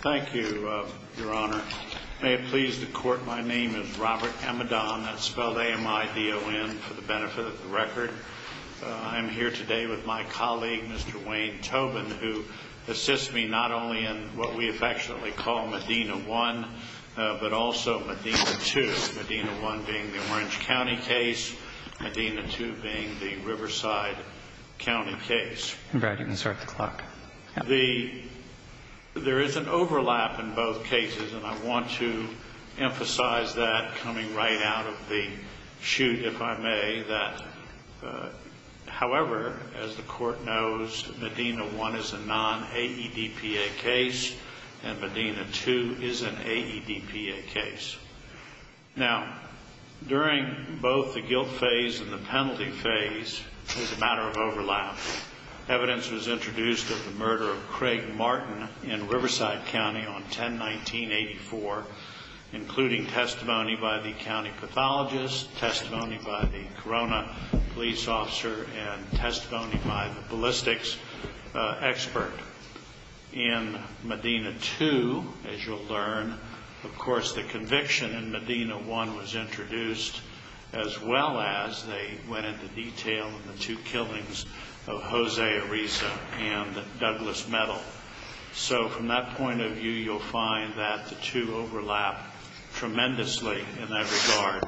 Thank you, Your Honor. May it please the Court, my name is Robert Amidon. That's spelled A-M-I-D-O-N for the benefit of the record. I'm here today with my colleague, Mr. Wayne Tobin, who assists me not only in what we affectionately call Medina 1, but also Medina 2. Medina 1 being the Orange County case, Medina 2 being the Riverside County case. And Brad, you can start the clock. There is an overlap in both cases, and I want to emphasize that coming right out of the shoot, if I may. However, as the Court knows, Medina 1 is a non-AEDPA case, and Medina 2 is an AEDPA case. Now, during both the guilt phase and the penalty phase, there's a matter of overlap. Evidence was introduced of the murder of Craig Martin in Riverside County on 10-19-84, including testimony by the county pathologist, testimony by the Corona police officer, and testimony by the ballistics expert. In Medina 2, as you'll learn, of course, the conviction in Medina 1 was introduced, as well as they went into detail in the two killings of Jose Ariza and Douglas Metal. So from that point of view, you'll find that the two overlap tremendously in that regard,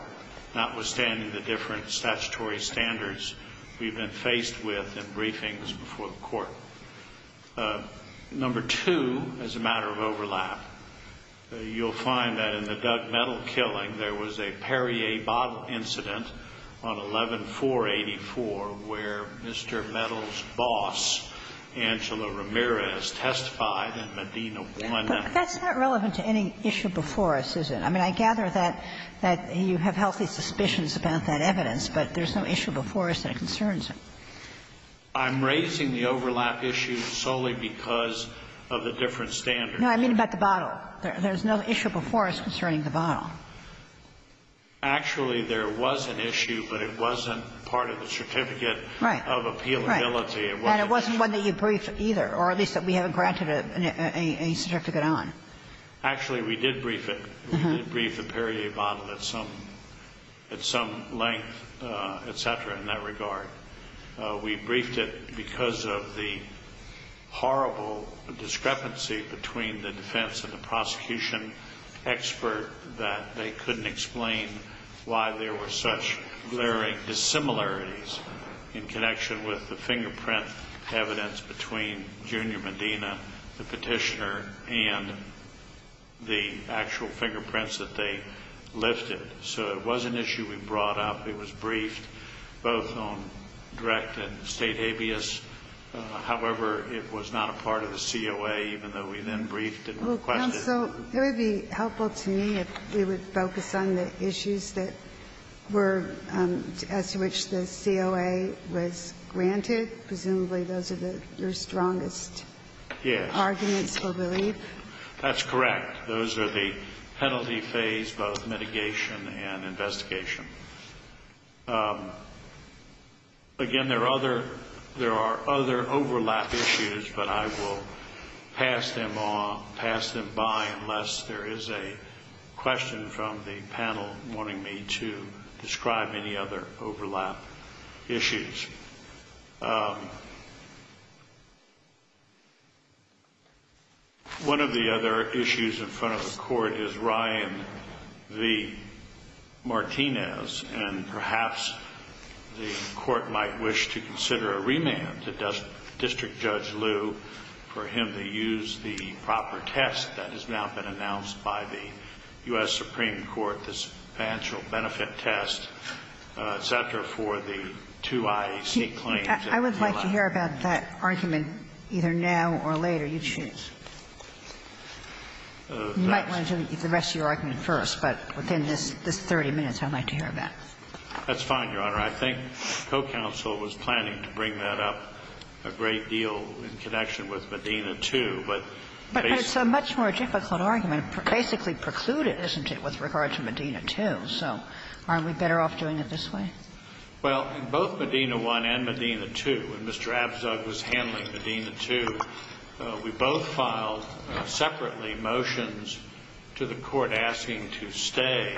notwithstanding the different statutory standards we've been faced with in briefings before the Court. Number two, as a matter of overlap, you'll find that in the Doug Metal killing, there was a Perrier bottle incident on 11-4-84 where Mr. Metal's boss, Angela Ramirez, testified in Medina 1. That's not relevant to any issue before us, is it? I mean, I gather that you have healthy suspicions about that evidence, but there's no issue before us that concerns it. I'm raising the overlap issue solely because of the different standards. No, I mean about the bottle. There's no issue before us concerning the bottle. Actually, there was an issue, but it wasn't part of the certificate of appealability. Right, right. And it wasn't one that you briefed either, or at least that we haven't granted a certificate on. Actually, we did brief it. We did brief the Perrier bottle at some length, et cetera, in that regard. We briefed it because of the horrible discrepancy between the defense and the prosecution expert that they couldn't explain why there were such glaring dissimilarities in connection with the fingerprint evidence between Junior Medina, the Petitioner, and the actual fingerprints that they lifted. So it was an issue we brought up. It was briefed both on direct and state habeas. However, it was not a part of the COA, even though we then briefed it and requested Well, counsel, it would be helpful to me if we would focus on the issues that were as to which the COA was granted. Presumably those are your strongest arguments for relief. That's correct. Those are the penalty phase, both mitigation and investigation. Again, there are other overlap issues, but I will pass them on, pass them by, unless there is a question from the panel wanting me to describe any other overlap issues. One of the other issues in front of the Court is Ryan V. Martinez, and perhaps the Court might wish to consider a remand to District Judge Liu for him to use the proper test that has now been announced by the U.S. Supreme Court, the substantial benefit test, et cetera, for the two IAC claims. I would like to hear about that argument either now or later. You choose. You might want to do the rest of your argument first, but within this 30 minutes, I'd like to hear about it. That's fine, Your Honor. I think the co-counsel was planning to bring that up a great deal in connection with Medina 2. But basically ---- But it's a much more difficult argument. Basically precluded, isn't it, with regard to Medina 2. So aren't we better off doing it this way? Well, in both Medina 1 and Medina 2, when Mr. Abzug was handling Medina 2, we both filed separately motions to the Court asking to stay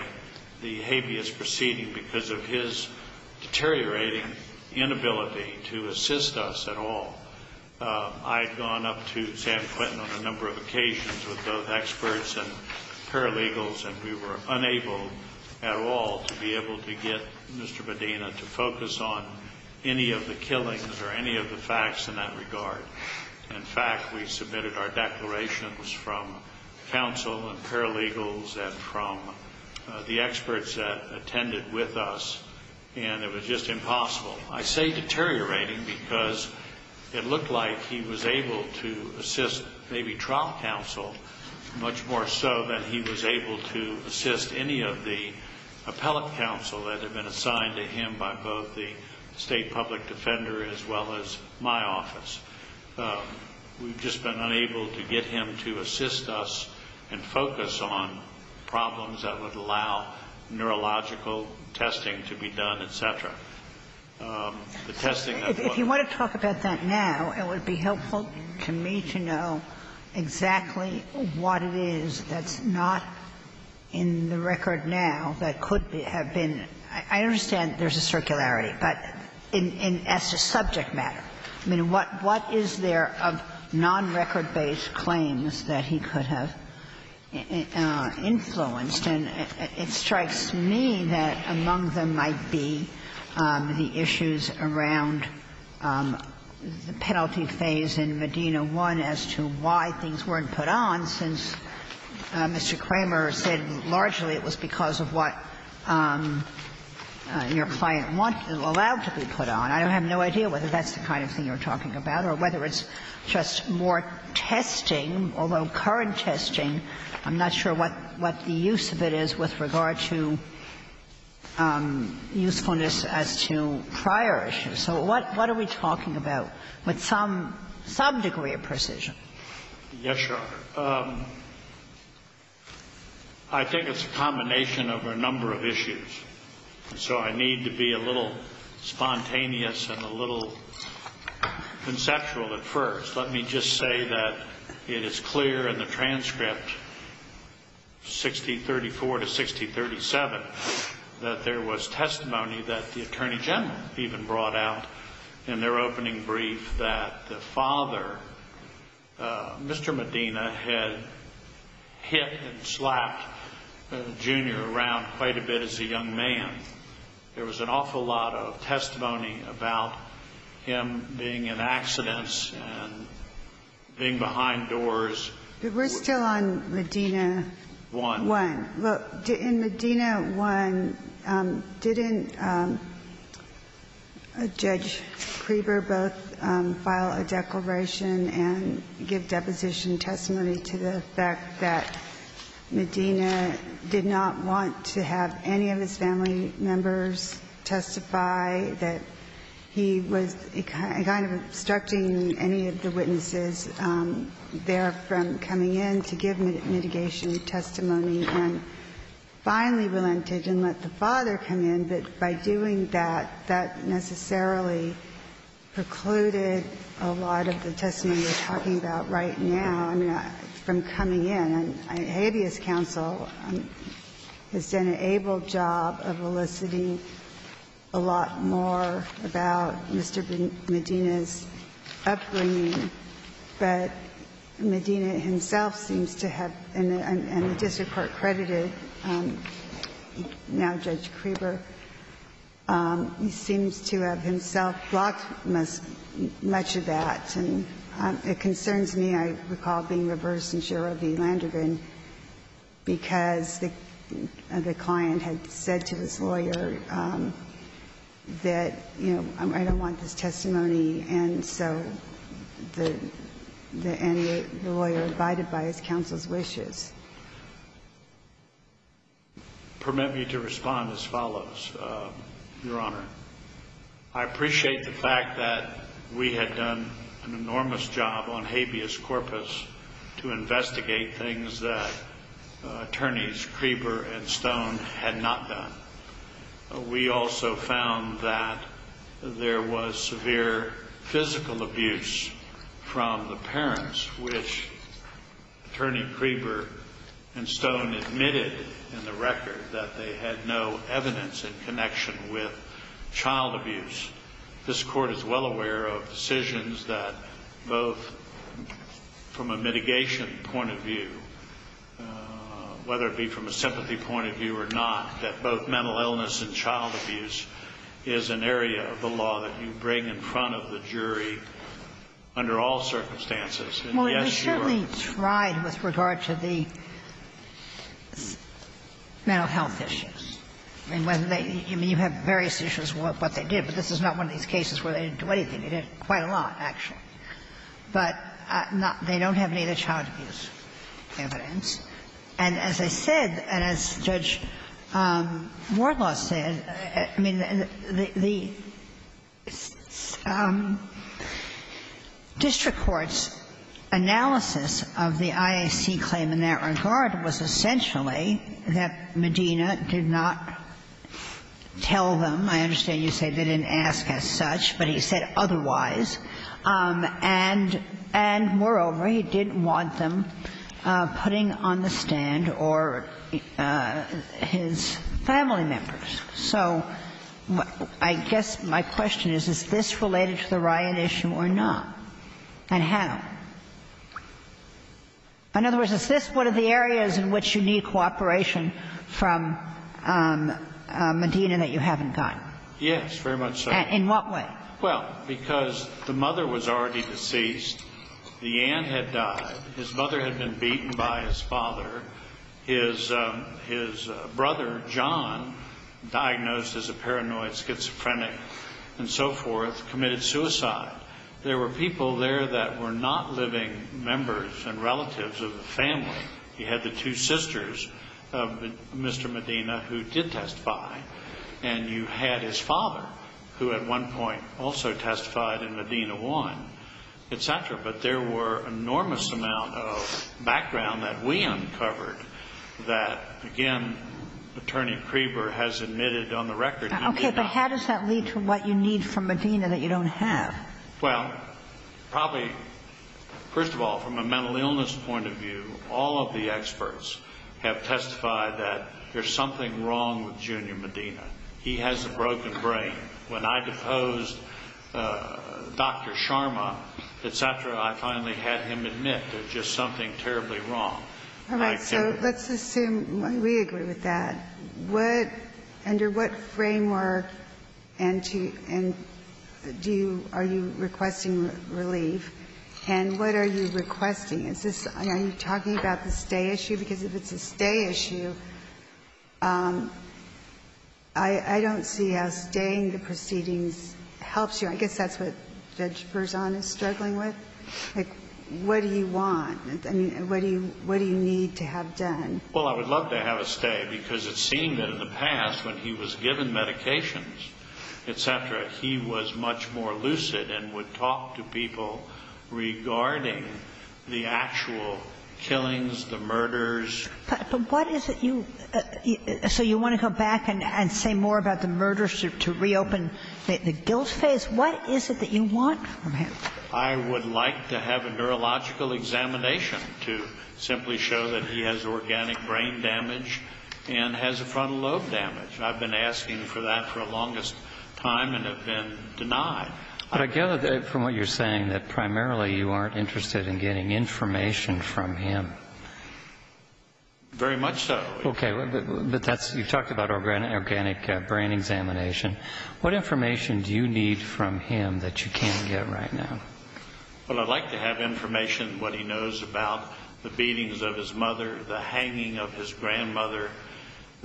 the habeas proceeding because of his deteriorating inability to assist us at all. I had gone up to San Quentin on a number of occasions with both experts and paralegals, and we were unable at all to be able to get Mr. Medina to focus on any of the killings or any of the facts in that regard. In fact, we submitted our declarations from counsel and paralegals and from the experts that attended with us, and it was just impossible. I say deteriorating because it looked like he was able to assist maybe trial counsel much more so than he was able to assist any of the appellate counsel that had been assigned to him by both the state public defender as well as my office. We've just been unable to get him to assist us and focus on problems that would allow neurological testing to be done, et cetera. The testing that was ---- If you want to talk about that now, it would be helpful to me to know exactly what it is that's not in the record now that could have been. I understand there's a circularity. But in as a subject matter, I mean, what is there of nonrecord-based claims that he could have influenced? And it strikes me that among them might be the issues around the penalty phase in Medina I as to why things weren't put on, since Mr. Kramer said largely it was because of what your client allowed to be put on. I have no idea whether that's the kind of thing you're talking about or whether it's just more testing, although current testing, I'm not sure what the use of it is with regard to usefulness as to prior issues. So what are we talking about with some degree of precision? Yes, Your Honor. I think it's a combination of a number of issues. So I need to be a little spontaneous and a little conceptual at first. Let me just say that it is clear in the transcript, 1634 to 1637, that there was testimony that the Attorney General even brought out in their opening brief that the father, Mr. Medina, had hit and slapped Junior around quite a bit as a young man. There was an awful lot of testimony about him being in accidents and being behind doors. But we're still on Medina I. Well, in Medina I, didn't Judge Kreeber both file a declaration and give deposition testimony to the fact that Medina did not want to have any of his family members testify, that he was kind of obstructing any of the witnesses there from coming in to give mitigation testimony and finally relented and let the father come in. But by doing that, that necessarily precluded a lot of the testimony we're talking about right now, I mean, from coming in. And habeas counsel has done an able job of eliciting a lot more about Mr. Medina's upbringing, but Medina himself seems to have, and the district court credited now Judge Kreeber, seems to have himself blocked much of that. And it concerns me, I recall being reversed in Shiro v. Landrigan, because the client had said to his lawyer that, you know, I don't want this testimony. And so the lawyer abided by his counsel's wishes. Permit me to respond as follows, Your Honor. I appreciate the fact that we had done an enormous job on habeas corpus to investigate things that Attorneys Kreeber and Stone had not done. We also found that there was severe physical abuse from the parents, which Attorney Kreeber and Stone admitted in the record that they had no evidence in connection with child abuse. This Court is well aware of decisions that both from a mitigation point of view, whether it be from a sympathy point of view or not, that both mental illness and child abuse is an area of the law that you bring in front of the jury under all circumstances. And, yes, you are right with regard to the mental health issues. I mean, you have various issues with what they did, but this is not one of these cases where they didn't do anything. They did quite a lot, actually. But they don't have any of the child abuse evidence. And as I said, and as Judge Wardlaw said, I mean, the district court's analysis of the IAC claim in that regard was essentially that Medina did not have any evidence He did not tell them. I understand you say they didn't ask as such, but he said otherwise. And moreover, he didn't want them putting on the stand or his family members. So I guess my question is, is this related to the riot issue or not, and how? In other words, is this one of the areas in which you need cooperation from Medina that you haven't gotten? Yes, very much so. In what way? Well, because the mother was already deceased. The aunt had died. His mother had been beaten by his father. His brother, John, diagnosed as a paranoid schizophrenic and so forth, committed suicide. There were people there that were not living members and relatives of the family. You had the two sisters of Mr. Medina who did testify. And you had his father, who at one point also testified in Medina 1, et cetera. But there were enormous amounts of background that we uncovered that, again, Attorney Kreeber has admitted on the record. Okay. But how does that lead to what you need from Medina that you don't have? Well, probably, first of all, from a mental illness point of view, all of the experts have testified that there's something wrong with Junior Medina. He has a broken brain. When I deposed Dr. Sharma, et cetera, I finally had him admit there's just something terribly wrong. All right. So let's assume we agree with that. What under what framework and do you, are you requesting relief? And what are you requesting? Is this, are you talking about the stay issue? Because if it's a stay issue, I don't see how staying the proceedings helps you. I guess that's what Judge Berzon is struggling with. Like, what do you want? I mean, what do you need to have done? Well, I would love to have a stay because it seemed that in the past when he was given medications, et cetera, he was much more lucid and would talk to people regarding the actual killings, the murders. But what is it you, so you want to go back and say more about the murders to reopen the guilt phase? What is it that you want from him? I would like to have a neurological examination to simply show that he has organic brain damage and has a frontal lobe damage. I've been asking for that for the longest time and have been denied. But I gather from what you're saying that primarily you aren't interested in getting information from him. Very much so. Okay. But that's, you've talked about organic brain examination. What information do you need from him that you can't get right now? Well, I'd like to have information what he knows about the beatings of his mother, the hanging of his grandmother,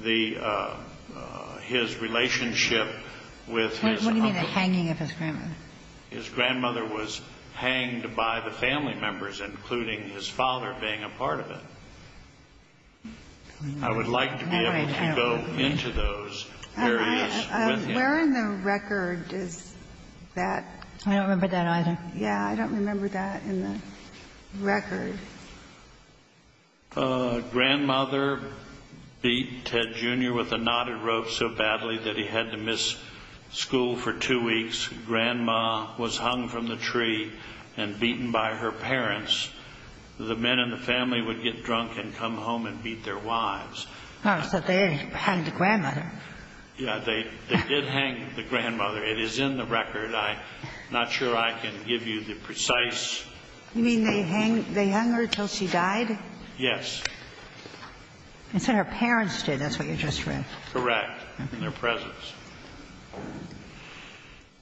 his relationship with his uncle. What do you mean the hanging of his grandmother? His grandmother was hanged by the family members, including his father being a part of it. Where in the record is that? I don't remember that either. Yeah, I don't remember that in the record. Grandmother beat Ted Jr. with a knotted rope so badly that he had to miss school for two weeks. Grandma was hung from the tree and beaten by her parents. The men in the family would get drunk and come home and beat their wives. Oh, so they hanged the grandmother. Yeah, they did hang the grandmother. It is in the record. I'm not sure I can give you the precise. You mean they hung her until she died? Yes. And so her parents did. That's what you just read. Correct. In their presence.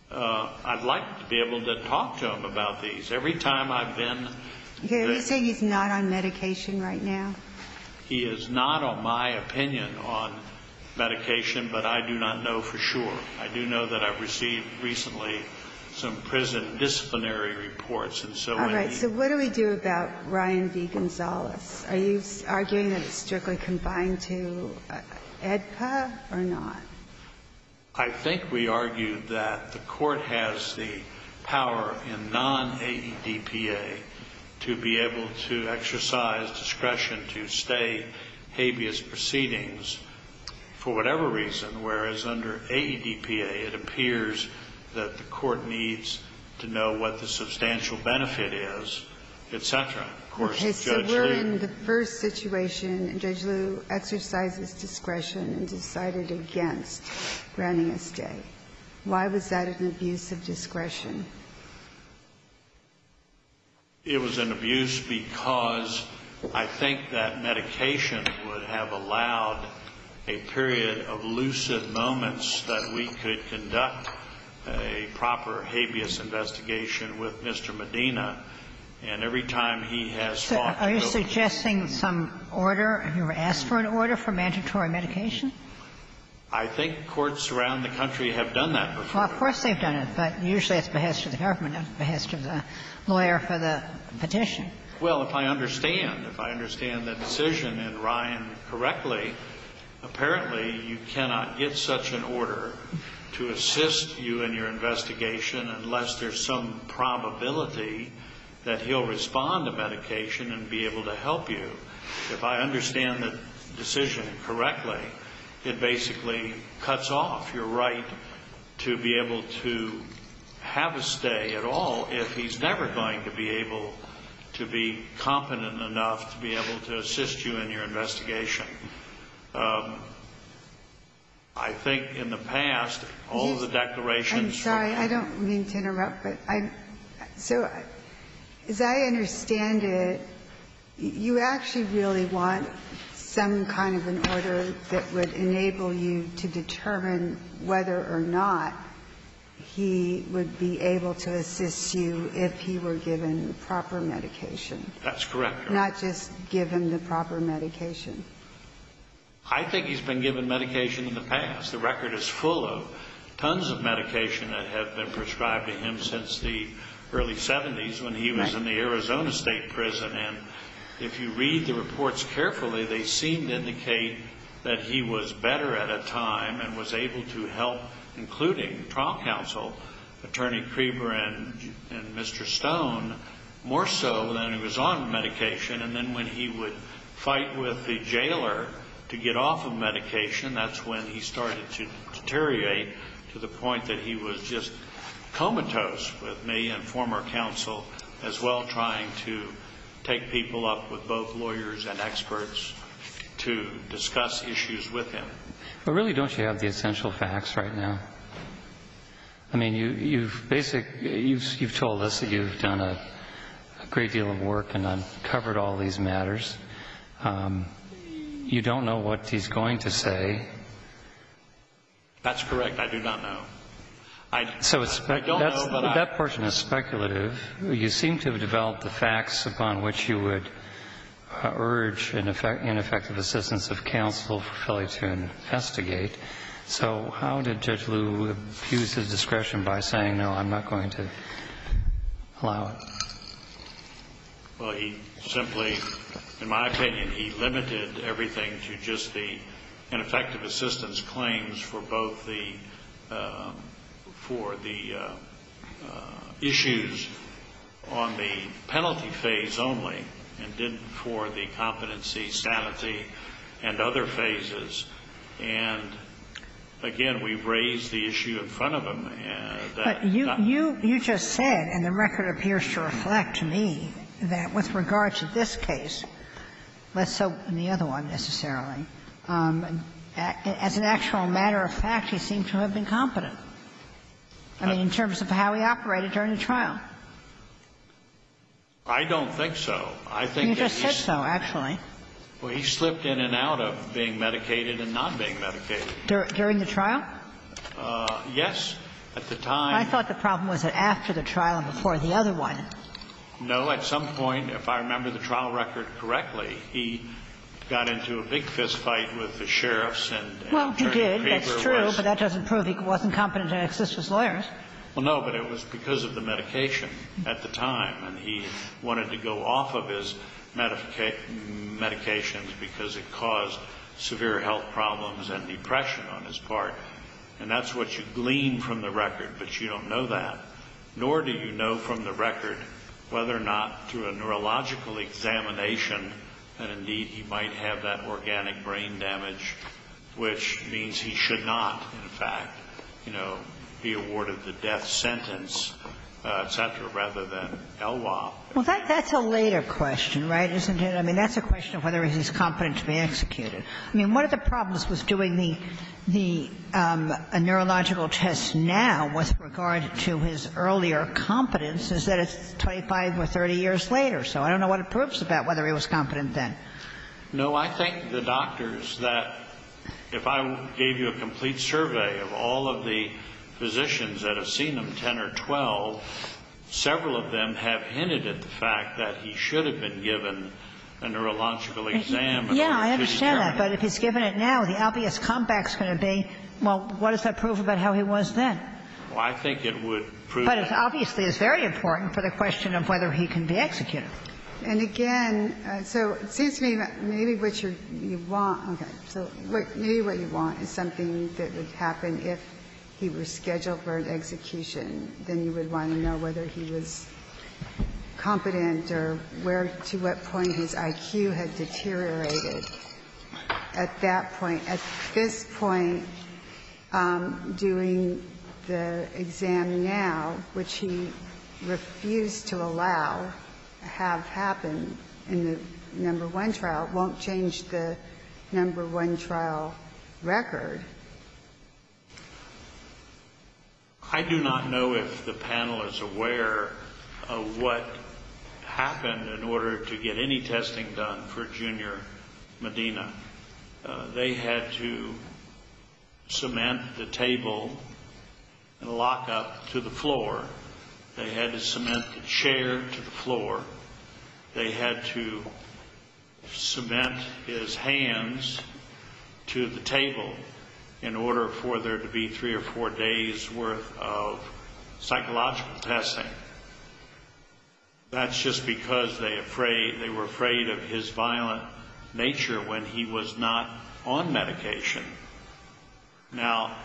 I'd like to be able to talk to him about these. Every time I've been. Did he say he's not on medication right now? He is not, in my opinion, on medication, but I do not know for sure. I do know that I've received recently some prison disciplinary reports. All right, so what do we do about Ryan V. Gonzalez? Are you arguing that it's strictly confined to AEDPA or not? I think we argue that the court has the power in non-AEDPA to be able to exercise discretion to stay habeas proceedings for whatever reason, whereas under AEDPA, it appears that the court needs to know what the substantial benefit is, et cetera. Of course, Judge Lee. He said we're in the first situation, and Judge Liu exercises discretion and decided against granting a stay. Why was that an abuse of discretion? It was an abuse because I think that medication would have allowed a period of lucid moments that we could conduct a proper habeas investigation with Mr. Medina, and every time he has fought to build. So are you suggesting some order? Have you ever asked for an order for mandatory medication? I think courts around the country have done that before. Well, of course they've done it, but usually it's behest of the government, not behest of the lawyer for the petition. Well, if I understand, if I understand the decision in Ryan correctly, apparently you cannot get such an order to assist you in your investigation unless there's some probability that he'll respond to medication and be able to help you. If I understand the decision correctly, it basically cuts off your right to be able to have a stay at all if he's never going to be able to be competent enough to be able to assist you in your investigation. I think in the past, all of the declarations. I'm sorry. I don't mean to interrupt, but I'm so as I understand it, you actually really want some kind of an order that would enable you to determine whether or not he would be able to assist you if he were given proper medication. That's correct. Not just given the proper medication. I think he's been given medication in the past. The record is full of tons of medication that have been prescribed to him since the early 70s when he was in the Arizona State Prison. And if you read the reports carefully, they seem to indicate that he was better at a time and was able to help, including trial counsel, Attorney Kreber and Mr. Stone, more so than he was on medication. And then when he would fight with the jailer to get off of medication, that's when he started to deteriorate to the point that he was just comatose with me and former counsel as well, trying to take people up with both lawyers and experts to discuss issues with him. But really, don't you have the essential facts right now? I mean, you've basically, you've told us that you've done a great deal of work and uncovered all these matters. You don't know what he's going to say. That's correct. I do not know. So that portion is speculative. You seem to have developed the facts upon which you would urge ineffective assistance of counsel for Philly to investigate. So how did Judge Liu abuse his discretion by saying, no, I'm not going to allow it? Well, he simply, in my opinion, he limited everything to just the ineffective assistance claims for both the issues on the penalty phase only and didn't for the competency, sanity, and other phases. And again, we've raised the issue in front of him. But you just said, and the record appears to reflect to me, that with regard to this one, necessarily, as an actual matter of fact, he seemed to have been competent. I mean, in terms of how he operated during the trial. I don't think so. I think that he's You just said so, actually. Well, he slipped in and out of being medicated and not being medicated. During the trial? Yes, at the time. I thought the problem was after the trial and before the other one. No, at some point, if I remember the trial record correctly, he got into a big fist fight with the sheriffs and turned the paper west. Well, he did. That's true. But that doesn't prove he wasn't competent to assist his lawyers. Well, no, but it was because of the medication at the time. And he wanted to go off of his medications because it caused severe health problems and depression on his part. And that's what you glean from the record. But you don't know that. Nor do you know from the record whether or not through a neurological examination that indeed he might have that organic brain damage, which means he should not, in fact, you know, be awarded the death sentence, et cetera, rather than ELWOP. Well, that's a later question, right, isn't it? I mean, that's a question of whether he's competent to be executed. I mean, one of the problems with doing the neurological test now with regard to his earlier competence is that it's 25 or 30 years later. So I don't know what it proves about whether he was competent then. No, I think the doctors that if I gave you a complete survey of all of the physicians that have seen him, 10 or 12, several of them have hinted at the fact that he should have been given a neurological exam. I think it would prove that. Well, I think it would prove that. But obviously, it's very important for the question of whether he can be executed. And again, so it seems to me that maybe what you want – okay. So maybe what you want is something that would happen if he were scheduled for an execution, then you would want to know whether he was competent or where – to what point his IQ had deteriorated. At that point. At this point, doing the exam now, which he refused to allow have happened in the number one trial, won't change the number one trial record. I do not know if the panel is aware of what happened in order to get any testing done for Junior Medina. They had to cement the table and lock up to the floor. They had to cement the chair to the floor. They had to cement his hands to the table in order for there to be three or four days' worth of psychological testing. That's just because they were afraid of his violent nature when he was not on medication. Now,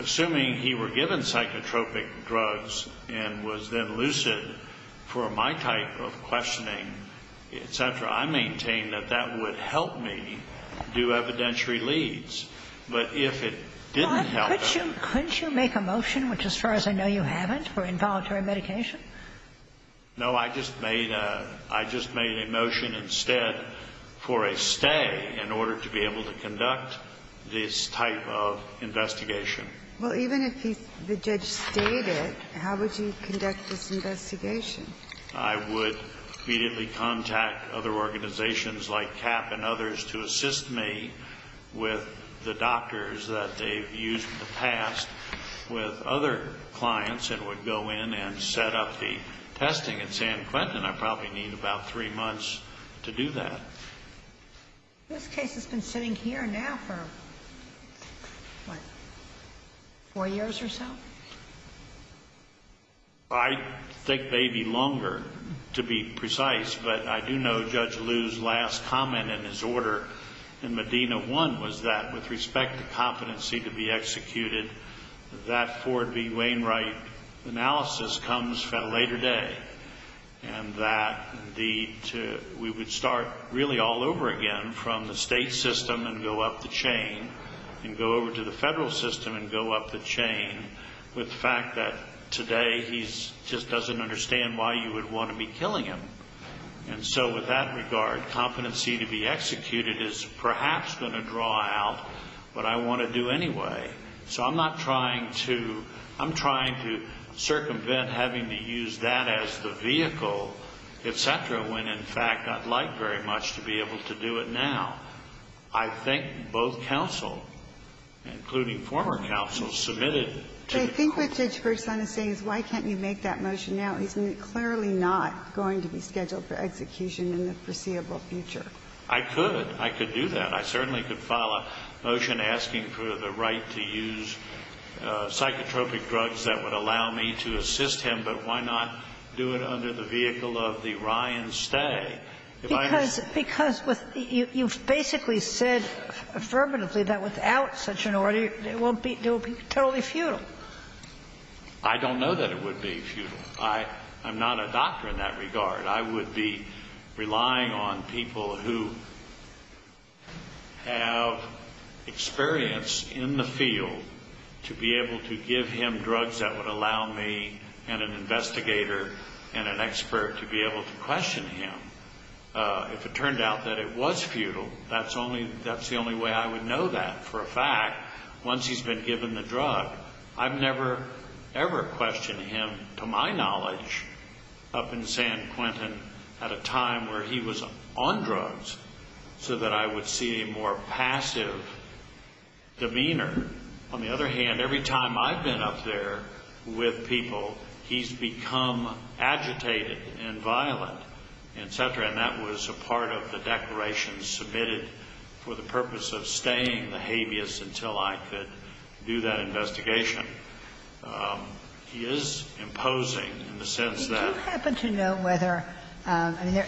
assuming he were given psychotropic drugs and was then lucid for my type of questioning, et cetera, I maintain that that would help me do evidentiary leads. But if it didn't help him – Couldn't you make a motion, which as far as I know you haven't, for involuntary medication? No, I just made a – I just made a motion instead for a stay in order to be able to conduct this type of investigation. Well, even if the judge stayed it, how would you conduct this investigation? I would immediately contact other organizations like CAP and others to assist me with the doctors that they've used in the past with other clients and would go in and set up the testing at San Quentin. I probably need about three months to do that. This case has been sitting here now for, what, four years or so? I think maybe longer, to be precise. But I do know Judge Liu's last comment in his order in Medina 1 was that with respect to competency to be executed, that Ford v. Wainwright analysis comes a later day and that we would start really all over again from the state system and go up the chain and go over to the federal system and go up the chain with the fact that today he just doesn't understand why you would want to be killing him. And so with that regard, competency to be executed is perhaps going to draw out what I want to do anyway. So I'm not trying to – I'm trying to circumvent having to use that as the vehicle, et cetera, when in fact I'd like very much to be able to do it now. I think both counsel, including former counsel, submitted to the court. Ginsburg's son is saying, why can't you make that motion now? He's clearly not going to be scheduled for execution in the foreseeable future. I could. I could do that. I certainly could file a motion asking for the right to use psychotropic drugs that would allow me to assist him. But why not do it under the vehicle of the Ryan stay? If I were to do it under the vehicle of the Ryan stay, it would be totally futile. I don't know that it would be futile. I'm not a doctor in that regard. I would be relying on people who have experience in the field to be able to give him drugs that would allow me and an investigator and an expert to be able to question him. If it turned out that it was futile, that's the only way I would know that for a fact. Once he's been given the drug, I've never ever questioned him, to my knowledge, up in San Quentin at a time where he was on drugs so that I would see a more passive demeanor. On the other hand, every time I've been up there with people, he's become agitated and violent, et cetera, and that was a part of the declaration submitted for the purpose of staying the habeas until I could do that investigation. He is imposing in the sense that ---- Kagan. You do happen to know whether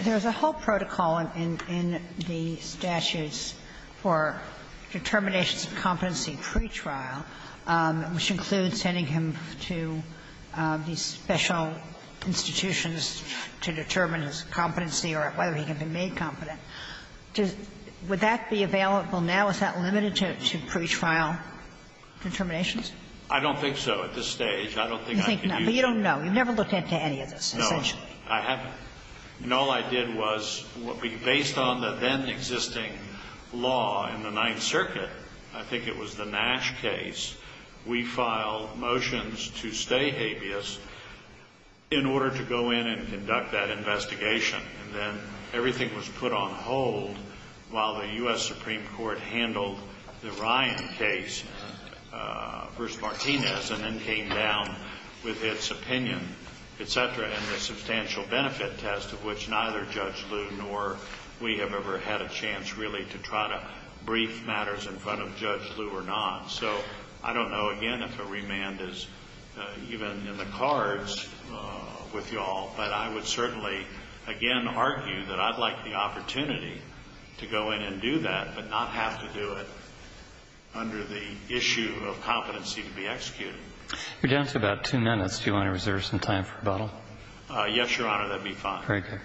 there's a whole protocol and in the statutes for determinations of competency pretrial, which includes sending him to these special institutions to determine his competency or whether he can be made competent. Does ---- would that be available now? Is that limited to pretrial determinations? I don't think so at this stage. I don't think I can use it. You think not. But you don't know. You've never looked into any of this, essentially. No. I haven't. And all I did was, based on the then-existing law in the Ninth Circuit, I think it was the Nash case, we filed motions to stay habeas in order to go in and conduct that investigation. And then everything was put on hold while the U.S. Supreme Court handled the Ryan case v. Martinez and then came down with its opinion, et cetera, and the substantial benefit test of which neither Judge Liu nor we have ever had a chance really to try to brief matters in front of Judge Liu or not. So I don't know, again, if a remand is even in the cards with you all. But I would certainly, again, argue that I'd like the opportunity to go in and do that but not have to do it under the issue of competency to be executed. You're down to about two minutes. Do you want to reserve some time for rebuttal? Yes, Your Honor. That would be fine. Very good.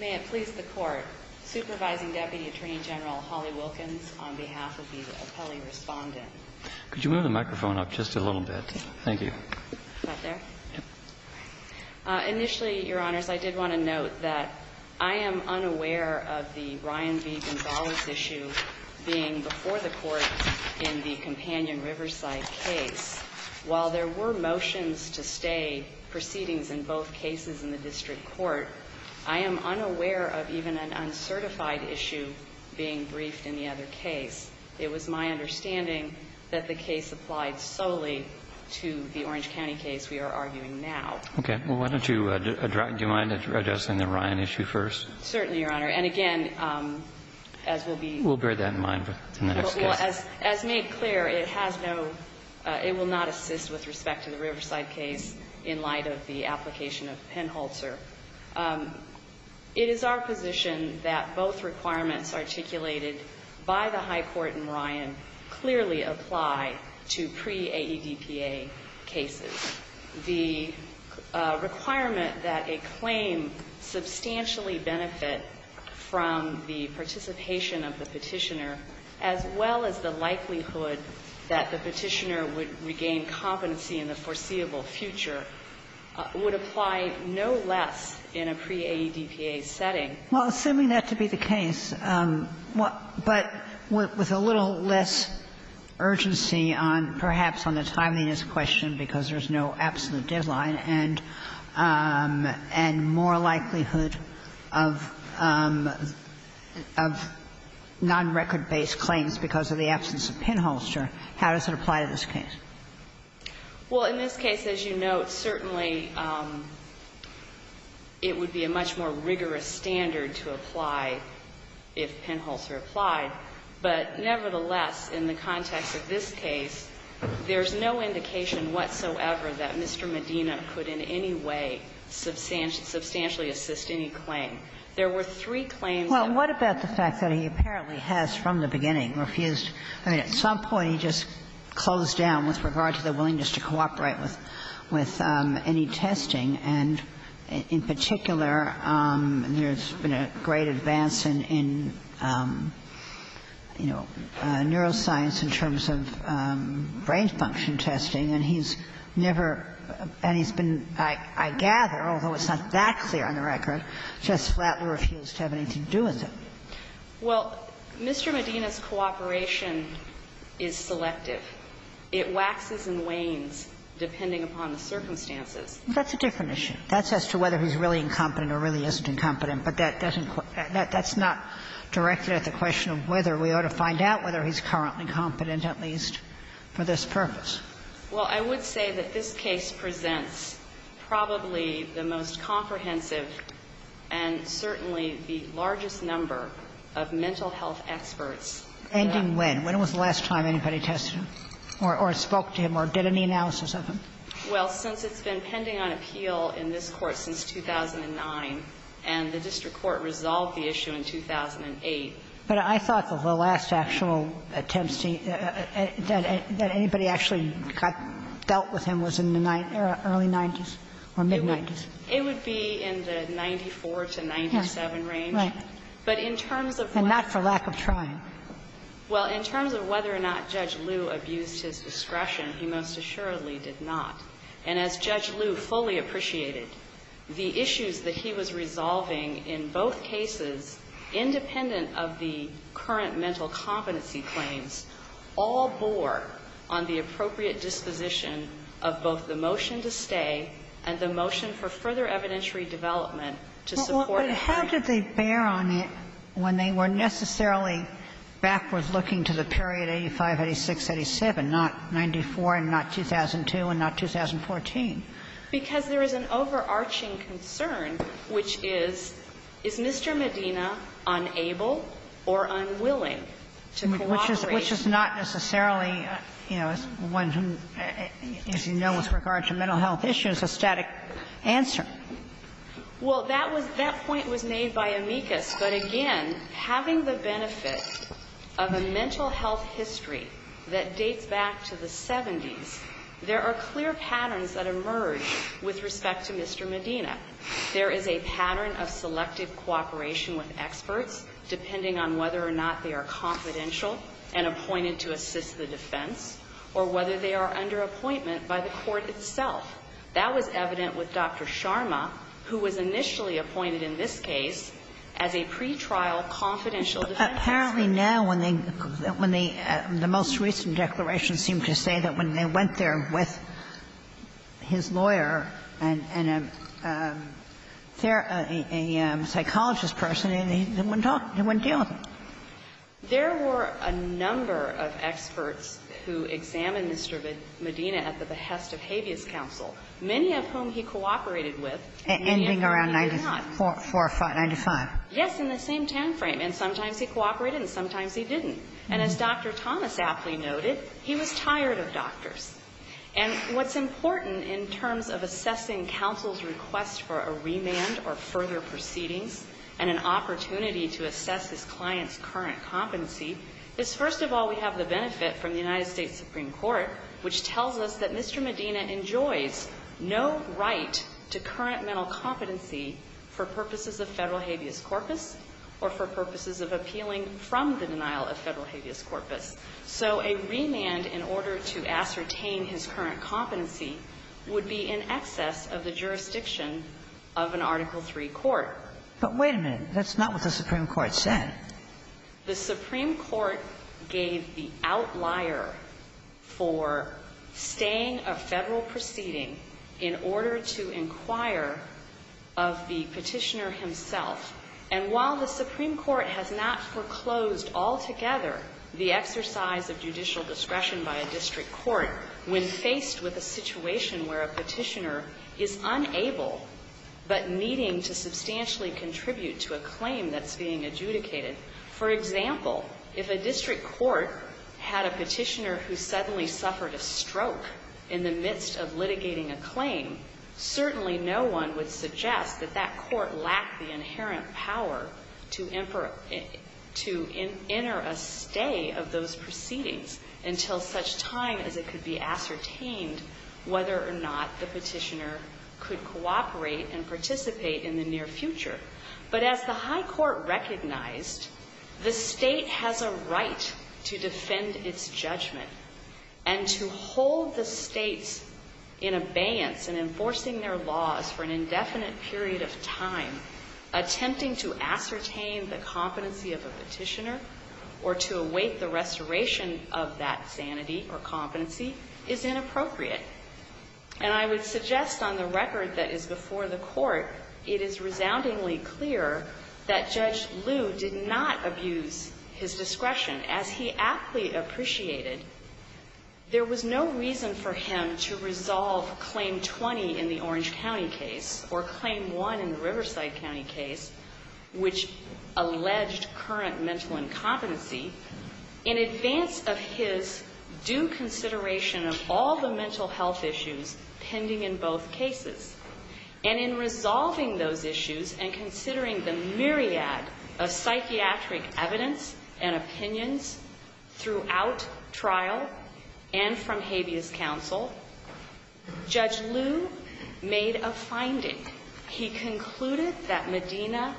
May it please the Court. Supervising Deputy Attorney General Holly Wilkins on behalf of the appellee respondent. Could you move the microphone up just a little bit? Thank you. Is that there? Yes. Initially, Your Honors, I did want to note that I am unaware of the Ryan v. Gonzales issue being before the Court in the Companion Riverside case. While there were motions to stay proceedings in both cases in the district court, I am unaware of even an uncertified issue being briefed in the other case. It was my understanding that the case applied solely to the Orange County case we are arguing now. Okay. Well, why don't you address the Ryan issue first? Certainly, Your Honor. And, again, as will be ---- We'll bear that in mind in the next case. Well, as made clear, it has no ---- it will not assist with respect to the Riverside case in light of the application of Penholtzer. It is our position that both requirements articulated by the High Court in Ryan clearly apply to pre-AEDPA cases. The requirement that a claim substantially benefit from the participation of the Petitioner, as well as the likelihood that the Petitioner would regain competency in the foreseeable future, would apply no less in a pre-AEDPA setting. Well, assuming that to be the case, but with a little less urgency on, perhaps, on the timeliness question, because there's no absolute deadline, and more likelihood of non-record-based claims because of the absence of Penholtzer, how does it apply to this case? Well, in this case, as you note, certainly it would be a much more rigorous standard to apply if Penholtzer applied. But nevertheless, in the context of this case, there's no indication whatsoever that Mr. Medina could in any way substantially assist any claim. There were three claims that were refused. Well, what about the fact that he apparently has, from the beginning, refused ---- I mean, at some point he just closed down with regard to the willingness to cooperate with any testing, and in particular, there's been a great advance in, you know, neuroscience in terms of brain function testing, and he's never ---- and he's been, I gather, although it's not that clear on the record, just flatly refused to have anything to do with it. Well, Mr. Medina's cooperation is selective. It waxes and wanes depending upon the circumstances. That's a different issue. That's as to whether he's really incompetent or really isn't incompetent, but that doesn't quite ---- that's not directed at the question of whether we ought to find out whether he's currently competent, at least for this purpose. Well, I would say that this case presents probably the most comprehensive and certainly the largest number of mental health experts that ---- Pending when? When was the last time anybody tested him or spoke to him or did any analysis of him? Well, since it's been pending on appeal in this Court since 2009, and the district court resolved the issue in 2008. But I thought that the last actual attempts to ---- that anybody actually got ---- dealt with him was in the early 90s or mid-90s. It would be in the 94 to 97 range. Right. But in terms of whether or not ---- And not for lack of trying. Well, in terms of whether or not Judge Liu abused his discretion, he most assuredly did not. And as Judge Liu fully appreciated, the issues that he was resolving in both cases, independent of the current mental competency claims, all bore on the appropriate disposition of both the motion to stay and the motion for further evidentiary development to support a hearing. But how did they bear on it when they were necessarily backwards looking to the period 2001, not 2014? Because there is an overarching concern, which is, is Mr. Medina unable or unwilling to cooperate? Which is not necessarily, you know, one who, as you know, with regard to mental health issues, a static answer. Well, that was ---- that point was made by Amicus. But again, having the benefit of a mental health history that dates back to the 70s, there are clear patterns that emerge with respect to Mr. Medina. There is a pattern of selective cooperation with experts, depending on whether or not they are confidential and appointed to assist the defense, or whether they are under appointment by the court itself. That was evident with Dr. Sharma, who was initially appointed in this case as a pretrial confidential defense attorney. But even now, when they ---- the most recent declarations seem to say that when they went there with his lawyer and a psychologist person, they wouldn't talk, they wouldn't deal with him. There were a number of experts who examined Mr. Medina at the behest of habeas counsel, many of whom he cooperated with. And ending around 94, 95. Yes, in the same time frame. And sometimes he cooperated and sometimes he didn't. And as Dr. Thomas Apley noted, he was tired of doctors. And what's important in terms of assessing counsel's request for a remand or further proceedings, and an opportunity to assess his client's current competency, is, first of all, we have the benefit from the United States Supreme Court, which tells us that Mr. Medina enjoys no right to current mental competency for purposes of federal habeas corpus or for purposes of appealing from the denial of federal habeas corpus. So a remand in order to ascertain his current competency would be in excess of the jurisdiction of an Article III court. But wait a minute. That's not what the Supreme Court said. The Supreme Court gave the outlier for staying a Federal proceeding in order to inquire of the petitioner himself. And while the Supreme Court has not foreclosed altogether the exercise of judicial discretion by a district court, when faced with a situation where a petitioner is unable but needing to substantially contribute to a claim that's being adjudicated, for example, if a district court had a petitioner who suddenly suffered a stroke in the past, that that court lacked the inherent power to enter a stay of those proceedings until such time as it could be ascertained whether or not the petitioner could cooperate and participate in the near future. But as the high court recognized, the state has a right to defend its judgment and to And I would suggest on the record that is before the Court, it is resoundingly clear that Judge Liu did not abuse his discretion. As he aptly appreciated, there was no reason for him to resolve Claim 20 in the Orange County case, or Claim 1 in the Orange County case, or Claim 2 in the Orange County case, or Claim 1 in the Riverside County case, which alleged current mental incompetency, in advance of his due consideration of all the mental health issues pending in both cases. And in resolving those issues and considering the myriad of psychiatric evidence and opinions throughout trial and from habeas counsel, Judge Liu made a finding. He concluded that Medina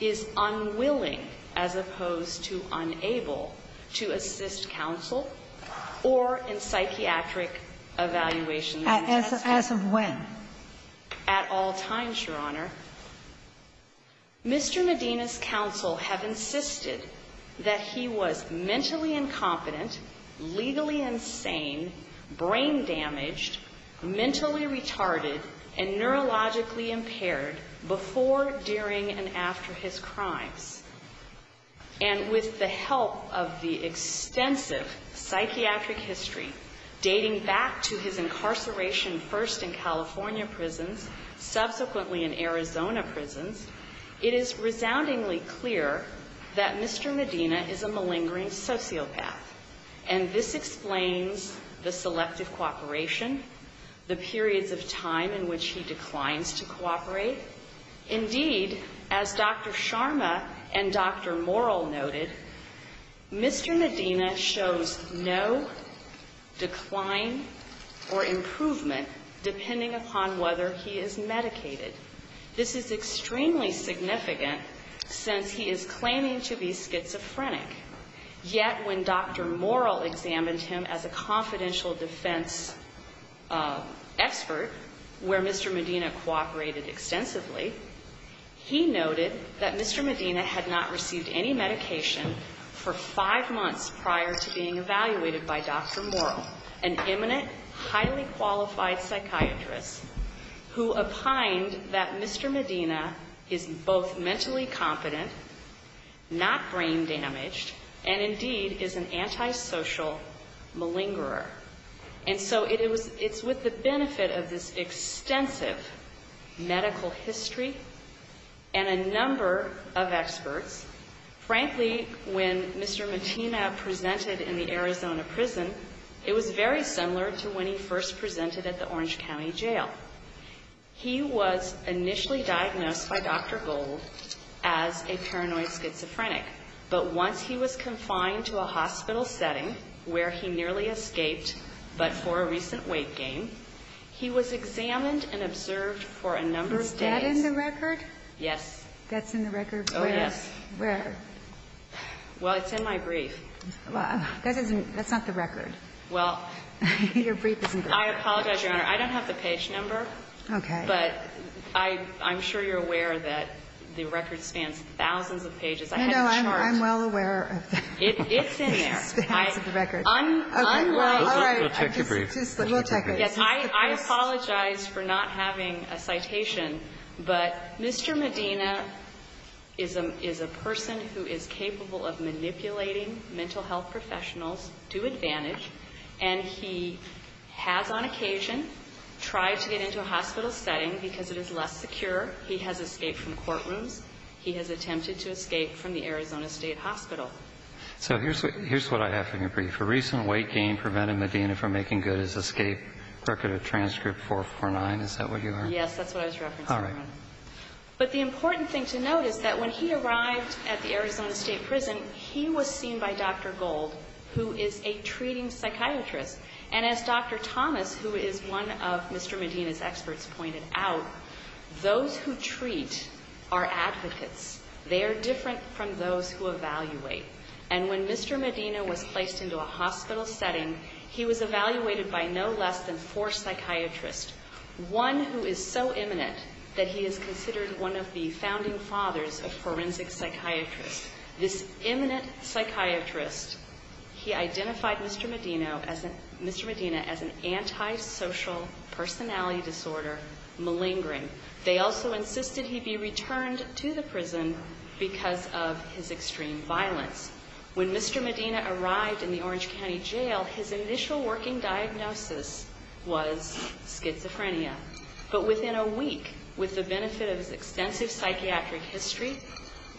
is unwilling, as opposed to unable, to assist counsel or in psychiatric evaluation. As of when? At all times, Your Honor. Mr. Medina's counsel have insisted that he was mentally incompetent, legally insane, brain damaged, mentally retarded, and neurologically impaired before, during, and after his crimes. And with the help of the extensive psychiatric history dating back to his incarceration first in California prisons, subsequently in Arizona prisons, it is resoundingly clear that Mr. Medina is a malingering sociopath. And this explains the selective cooperation, the periods of time in which he declines to cooperate. Indeed, as Dr. Sharma and Dr. Morrill noted, Mr. Medina shows no decline or improvement depending upon whether he is medicated. This is extremely significant since he is claiming to be schizophrenic. Yet, when Dr. Morrill examined him as a confidential defense expert, where Mr. Medina cooperated extensively, he noted that Mr. Medina had not received any medication for five months prior to being evaluated by Dr. Morrill, an eminent, highly qualified psychiatrist who opined that Mr. Medina is both mentally competent, not brain damaged, and indeed is an antisocial malingerer. And so it's with the benefit of this extensive medical history and a number of experts, frankly, when Mr. Medina presented in the Arizona prison, it was very similar to when he was being first presented at the Orange County jail. He was initially diagnosed by Dr. Gold as a paranoid schizophrenic. But once he was confined to a hospital setting where he nearly escaped but for a recent weight gain, he was examined and observed for a number of days. Is that in the record? Yes. That's in the record? Oh, yes. Where? Well, it's in my brief. That's not the record. Well, I apologize, Your Honor. I don't have the page number. Okay. But I'm sure you're aware that the record spans thousands of pages. I have a chart. No, I'm well aware of that. It's in there. It spans the record. Okay. All right. We'll take your brief. We'll take it. I apologize for not having a citation, but Mr. Medina is a person who is capable of manipulating mental health professionals to advantage, and he has on occasion tried to get into a hospital setting because it is less secure. He has escaped from courtrooms. He has attempted to escape from the Arizona State Hospital. So here's what I have in your brief. A recent weight gain prevented Medina from making good his escape. Record of transcript 449. Is that what you are? Yes. That's what I was referencing, Your Honor. All right. But the important thing to note is that when he arrived at the Arizona State Prison, he was seen by Dr. Gold, who is a treating psychiatrist. And as Dr. Thomas, who is one of Mr. Medina's experts, pointed out, those who treat are advocates. They are different from those who evaluate. And when Mr. Medina was placed into a hospital setting, he was evaluated by no less than one of the founding fathers of forensic psychiatrists. This eminent psychiatrist, he identified Mr. Medina as an antisocial personality disorder, malingering. They also insisted he be returned to the prison because of his extreme violence. When Mr. Medina arrived in the Orange County Jail, his initial working diagnosis was schizophrenia. But within a week, with the benefit of his extensive psychiatric history,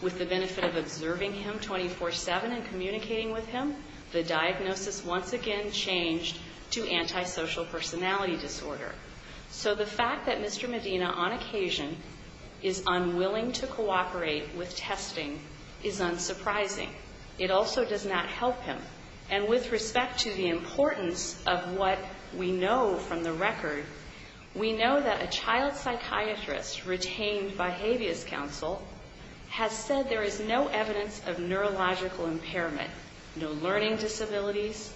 with the benefit of observing him 24-7 and communicating with him, the diagnosis once again changed to antisocial personality disorder. So the fact that Mr. Medina on occasion is unwilling to cooperate with testing is unsurprising. It also does not help him. And with respect to the importance of what we know from the record, we know that a child psychiatrist retained by Habeas Council has said there is no evidence of neurological impairment, no learning disabilities.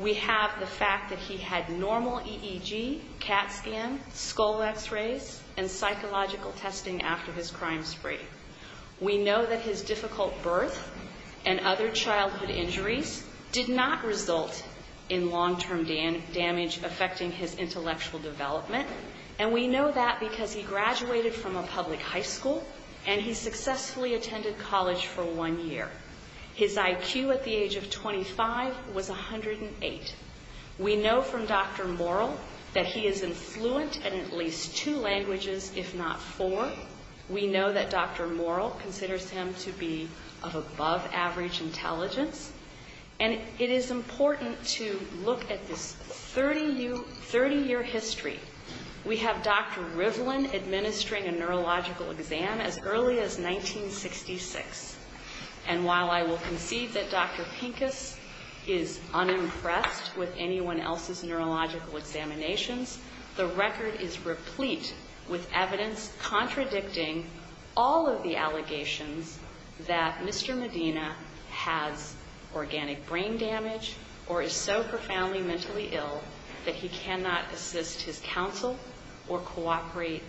We have the fact that he had normal EEG, CAT scan, skull X-rays, and psychological testing after his crime spree. We know that his difficult birth and other childhood injuries did not result in long-term damage affecting his intellectual development. And we know that because he graduated from a public high school and he successfully attended college for one year. His IQ at the age of 25 was 108. We know from Dr. Morrill that he is influent in at least two languages, if not four. We know that Dr. Morrill considers him to be of above-average intelligence. And it is important to look at this 30-year history. We have Dr. Rivlin administering a neurological exam as early as 1966. And while I will concede that Dr. Pincus is unimpressed with anyone else's neurological examinations, the record is replete with evidence contradicting all of the allegations that Mr. Medina has organic brain damage or is so profoundly mentally ill that he cannot assist his counsel or cooperate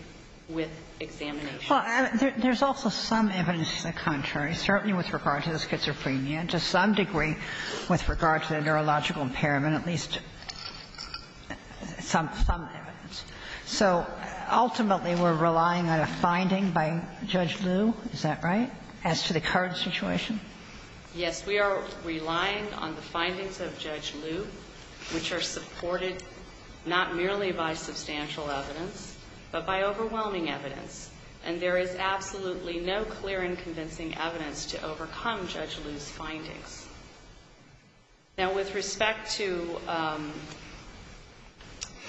with examinations. Well, there's also some evidence to the contrary, certainly with regard to the schizophrenia, to some degree with regard to the neurological impairment, at least some evidence. So ultimately we're relying on a finding by Judge Liu, is that right, as to the current situation? Yes. We are relying on the findings of Judge Liu, which are supported not merely by substantial evidence, but by overwhelming evidence. And there is absolutely no clear and convincing evidence to overcome Judge Liu's findings. Now, with respect to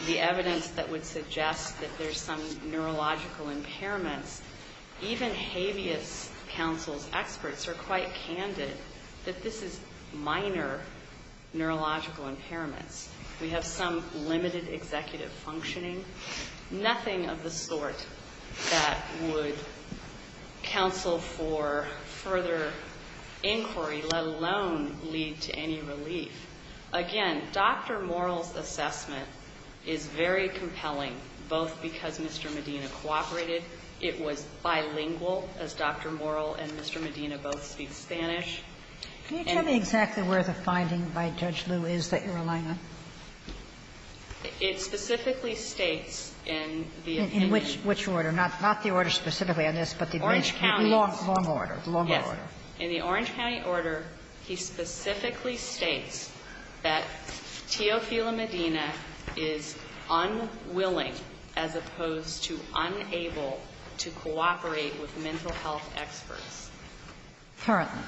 the evidence that would suggest that there's some neurological impairments, even habeas counsel's experts are quite candid that this is minor neurological impairments. We have some limited executive functioning. Nothing of the sort that would counsel for further inquiry, let alone lead to any relief. Again, Dr. Morrill's assessment is very compelling, both because Mr. Medina cooperated. It was bilingual, as Dr. Morrill and Mr. Medina both speak Spanish. Can you tell me exactly where the finding by Judge Liu is that you're relying on? It specifically states in the opinion. In which order? Not the order specifically on this, but the Orange County's? Long order. Long order. Yes. In the Orange County order, he specifically states that Teofilo Medina is unwilling as opposed to unable to cooperate with mental health experts. Currently.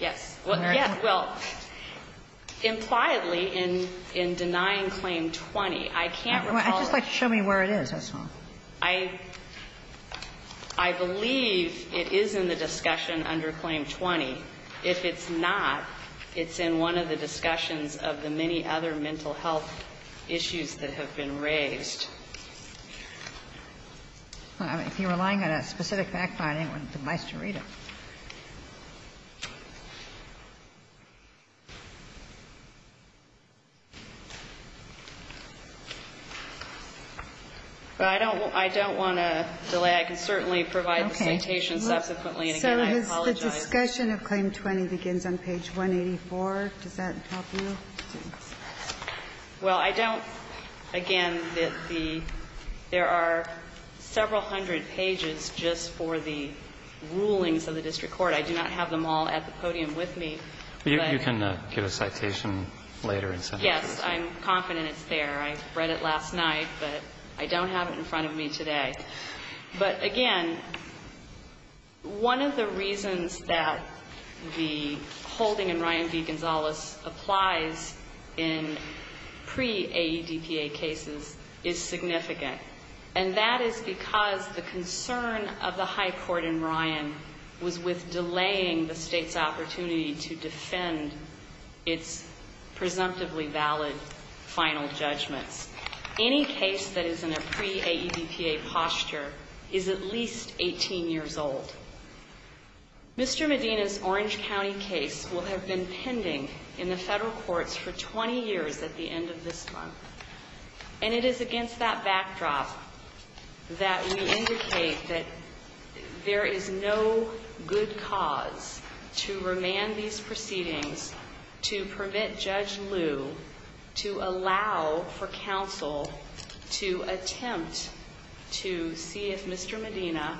Yes. Well, yes. Well, impliedly, in denying Claim 20, I can't recall it. I'd just like to show me where it is, that's all. I believe it is in the discussion under Claim 20. If it's not, it's in one of the discussions of the many other mental health issues that have been raised. If you're relying on a specific fact finding, it would be nice to read it. But I don't want to delay. I can certainly provide the citation subsequently. And again, I apologize. So the discussion of Claim 20 begins on page 184. Does that help you? Well, I don't, again, that there are several hundred pages just for the rulings of the district court. I do not have them all at the podium with me. You can give a citation later. Yes. I'm confident it's there. I read it last night. But I don't have it in front of me today. But again, one of the reasons that the holding in Ryan v. Gonzales applies in pre-AEDPA cases is significant. And that is because the concern of the high court in Ryan was with delaying the state's opportunity to defend its presumptively valid final judgments. Any case that is in a pre-AEDPA posture is at least 18 years old. Mr. Medina's Orange County case will have been pending in the federal courts for 20 years at the end of this month. And it is against that backdrop that we indicate that there is no good cause to remand these proceedings to permit Judge Liu to allow for counsel to attempt to see if Mr. Medina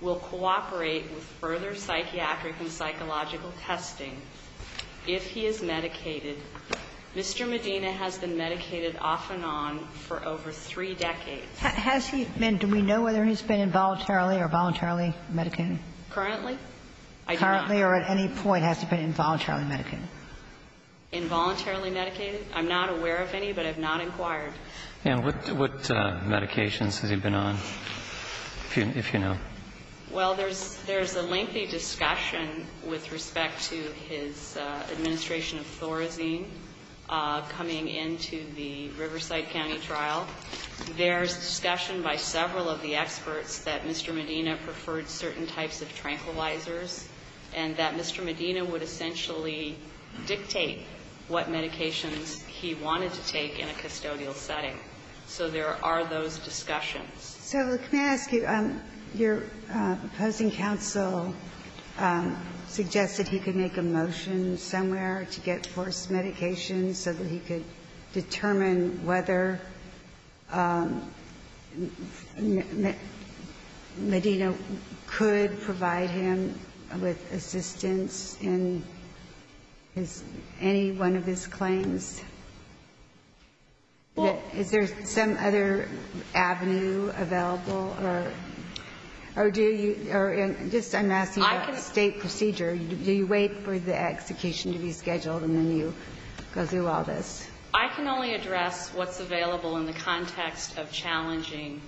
will cooperate with further psychiatric and psychological testing if he is medicated. Mr. Medina has been medicated off and on for over three decades. Has he been? Do we know whether he's been involuntarily or voluntarily medicated? Currently. I do not. Currently or at any point has he been involuntarily medicated? Involuntarily medicated? I'm not aware of any, but I have not inquired. And what medications has he been on, if you know? Well, there's a lengthy discussion with respect to his administration of Thorazine coming into the Riverside County trial. There's discussion by several of the experts that Mr. Medina preferred certain types of tranquilizers and that Mr. Medina would essentially dictate what medications he wanted to take in a custodial setting. So there are those discussions. So let me ask you, your opposing counsel suggested he could make a motion somewhere to get forced medication so that he could determine whether Medina could provide him with assistance in his any one of his claims. Is there some other avenue available? Or do you or just I'm asking about state procedure. Do you wait for the execution to be scheduled and then you go through all this? I can only address what's available in the context of challenging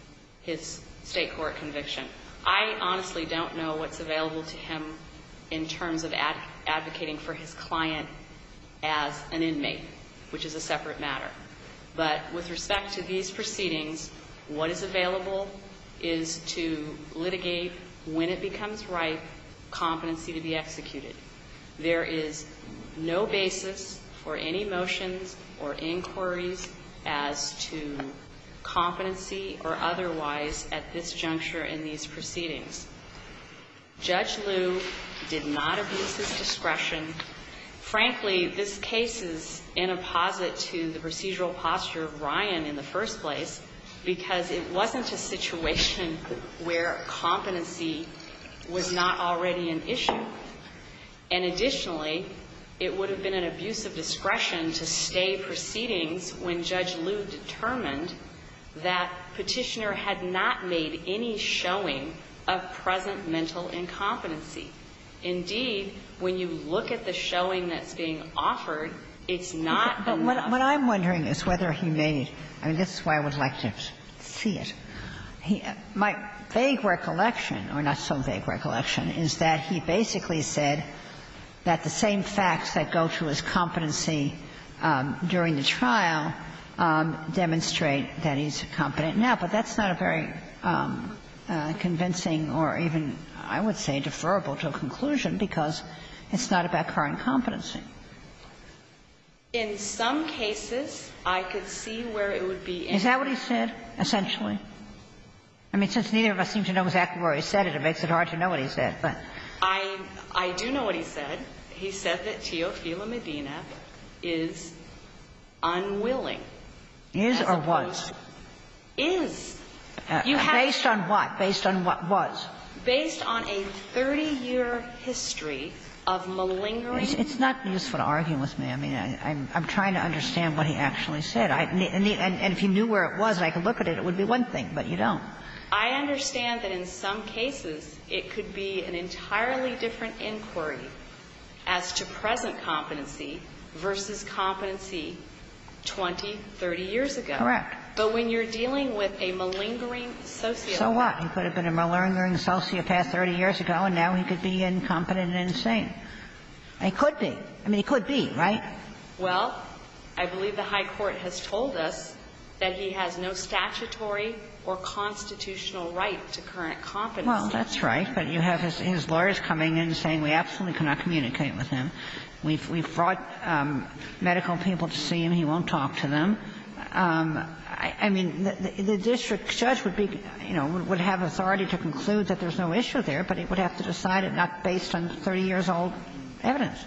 his state court conviction. I honestly don't know what's available to him in terms of advocating for his client as an inmate. Which is a separate matter. But with respect to these proceedings, what is available is to litigate when it becomes right, competency to be executed. There is no basis for any motions or inquiries as to competency or otherwise at this juncture in these proceedings. Judge Liu did not abuse his discretion. Frankly, this case is in apposite to the procedural posture of Ryan in the first place. Because it wasn't a situation where competency was not already an issue. And additionally, it would have been an abuse of discretion to stay proceedings when Judge Liu determined that Petitioner had not made any showing of present mental incompetency. Indeed, when you look at the showing that's being offered, it's not enough. But what I'm wondering is whether he made, and this is why I would like to see it. My vague recollection, or not so vague recollection, is that he basically said that the same facts that go to his competency during the trial demonstrate that he's competent. Now, but that's not a very convincing or even, I would say, deferrable to a conclusion, because it's not about current competency. In some cases, I could see where it would be in. Is that what he said, essentially? I mean, since neither of us seem to know exactly where he said it, it makes it hard to know what he said. But I do know what he said. He said that Teofilo Medina is unwilling. Is or was? Is. You have to know. Based on what? Based on what was? Based on a 30-year history of malingering. It's not useful to argue with me. I mean, I'm trying to understand what he actually said. And if you knew where it was and I could look at it, it would be one thing, but you don't. I understand that in some cases it could be an entirely different inquiry as to present competency versus competency 20, 30 years ago. Correct. But when you're dealing with a malingering sociopath. So what? He could have been a malingering sociopath 30 years ago, and now he could be incompetent and insane. It could be. I mean, it could be, right? Well, I believe the high court has told us that he has no statutory or constitutional right to current competency. Well, that's right. But you have his lawyers coming in saying we absolutely cannot communicate with him. We've brought medical people to see him. He won't talk to them. I mean, the district judge would be, you know, would have authority to conclude that there's no issue there, but he would have to decide it not based on 30 years' old evidence.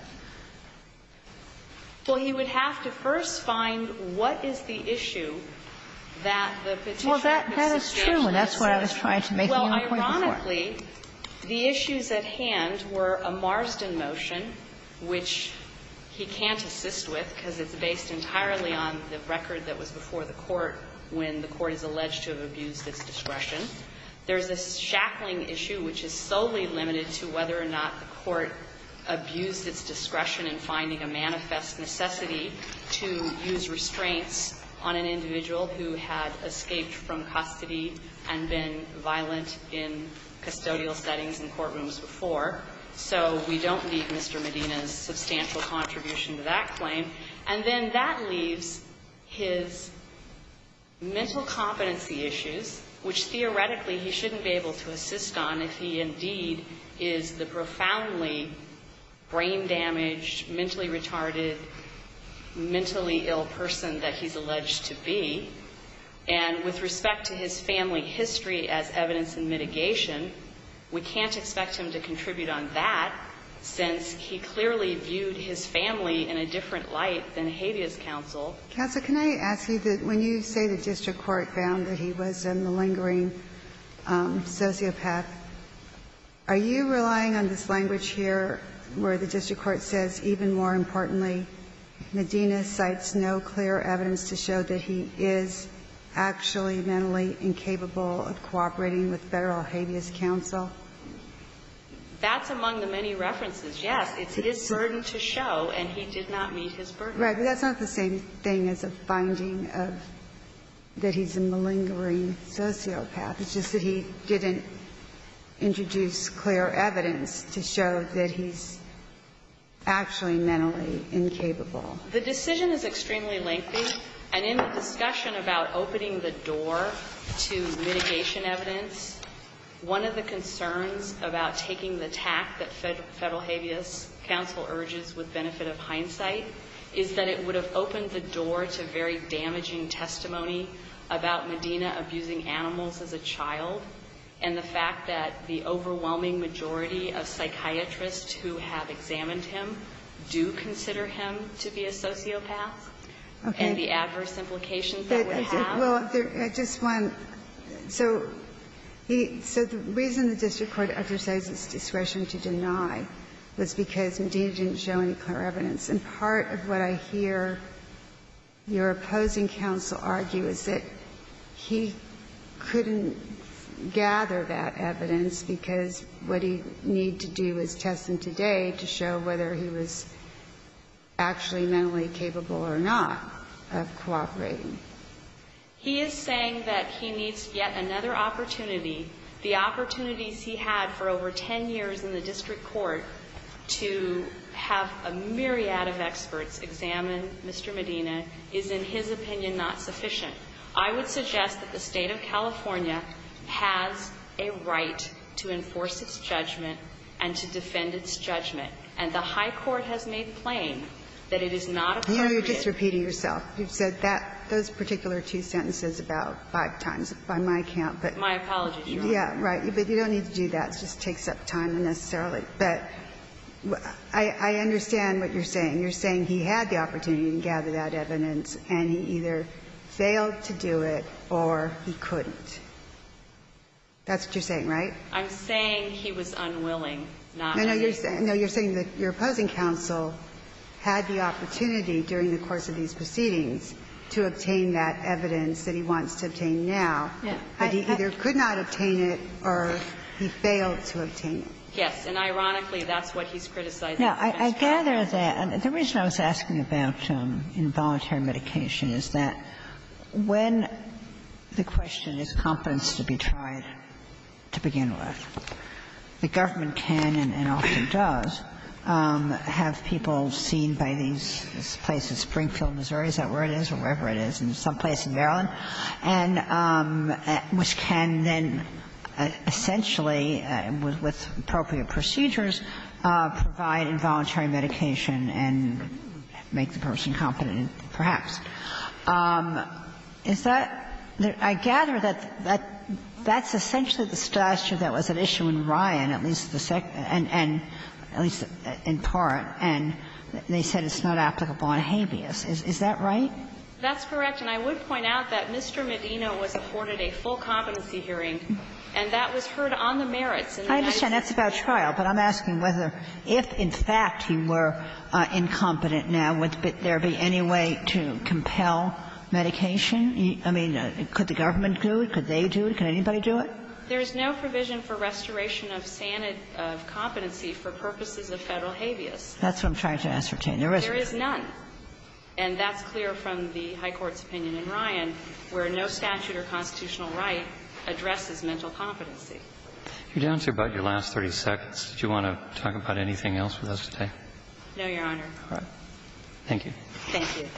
Well, he would have to first find what is the issue that the Petitioner could suggest. Well, that is true, and that's what I was trying to make a point for. Well, ironically, the issues at hand were a Marsden motion, which he can't assist with because it's based entirely on the record that was before the court when the court is alleged to have abused its discretion. There's this Shackling issue, which is solely limited to whether or not the court abused its discretion in finding a manifest necessity to use restraints on an individual who had escaped from custody and been violent in custodial settings and courtrooms before. So we don't need Mr. Medina's substantial contribution to that claim. And then that leaves his mental competency issues, which theoretically he shouldn't be able to assist on if he indeed is the profoundly brain-damaged, mentally retarded, mentally ill person that he's alleged to be. And with respect to his family history as evidence in mitigation, we can't expect him to contribute on that, since he clearly viewed his family in a different light than habeas counsel. Counsel, can I ask you that when you say the district court found that he was a malingering sociopath, are you relying on this language here where the district court says, even more importantly, Medina cites no clear evidence to show that he is actually mentally incapable of cooperating with Federal habeas counsel? That's among the many references. Yes, it's his burden to show, and he did not meet his burden. Right. But that's not the same thing as a finding of that he's a malingering sociopath. It's just that he didn't introduce clear evidence to show that he's actually mentally incapable. The decision is extremely lengthy, and in the discussion about opening the door to mitigation evidence, one of the concerns about taking the tact that Federal habeas counsel urges with benefit of hindsight is that it would have opened the door to very damaging testimony about Medina abusing animals as a child, and the fact that the overwhelming majority of psychiatrists who have examined him do consider him to be a sociopath and the adverse implications that would have. Okay. Well, I just want to say, so the reason the district court exercised its discretion to deny was because Medina didn't show any clear evidence. And part of what I hear your opposing counsel argue is that he couldn't gather that evidence because what he needed to do was test him today to show whether he was actually mentally capable or not of cooperating. He is saying that he needs yet another opportunity. The opportunities he had for over 10 years in the district court to have a myriad of experts examine Mr. Medina is, in his opinion, not sufficient. I would suggest that the State of California has a right to enforce its judgment and to defend its judgment. And the high court has made plain that it is not appropriate. You know, you're just repeating yourself. You've said that those particular two sentences about five times by my count. My apologies, Your Honor. Yeah, right. But you don't need to do that. It just takes up time unnecessarily. But I understand what you're saying. You're saying he had the opportunity to gather that evidence, and he either failed to do it or he couldn't. That's what you're saying, right? I'm saying he was unwilling not to. No, you're saying that your opposing counsel had the opportunity during the course of these proceedings to obtain that evidence that he wants to obtain now, but he either could not obtain it or he failed to obtain it. Yes. And ironically, that's what he's criticizing. Yeah, I gather that. The reason I was asking about involuntary medication is that when the question is competence to be tried, to begin with, the government can and often does have people seen by these places, Springfield, Missouri, is that where it is, or wherever it is, and someplace in Maryland, and which can then essentially, with appropriate procedures, provide involuntary medication and make the person competent, perhaps. Is that the – I gather that that's essentially the stature that was at issue in Ryan, at least the second – and at least in part, and they said it's not applicable on habeas. Is that right? That's correct. And I would point out that Mr. Medina was afforded a full competency hearing, and that was heard on the merits. I understand that's about trial, but I'm asking whether if, in fact, he were incompetent right now, would there be any way to compel medication? I mean, could the government do it? Could they do it? Could anybody do it? There is no provision for restoration of sanity of competency for purposes of Federal habeas. That's what I'm trying to ascertain. There isn't. There is none. And that's clear from the high court's opinion in Ryan, where no statute or constitutional right addresses mental competency. You did answer about your last 30 seconds. Did you want to talk about anything else with us today? No, Your Honor. All right. Thank you. Thank you. Thank you.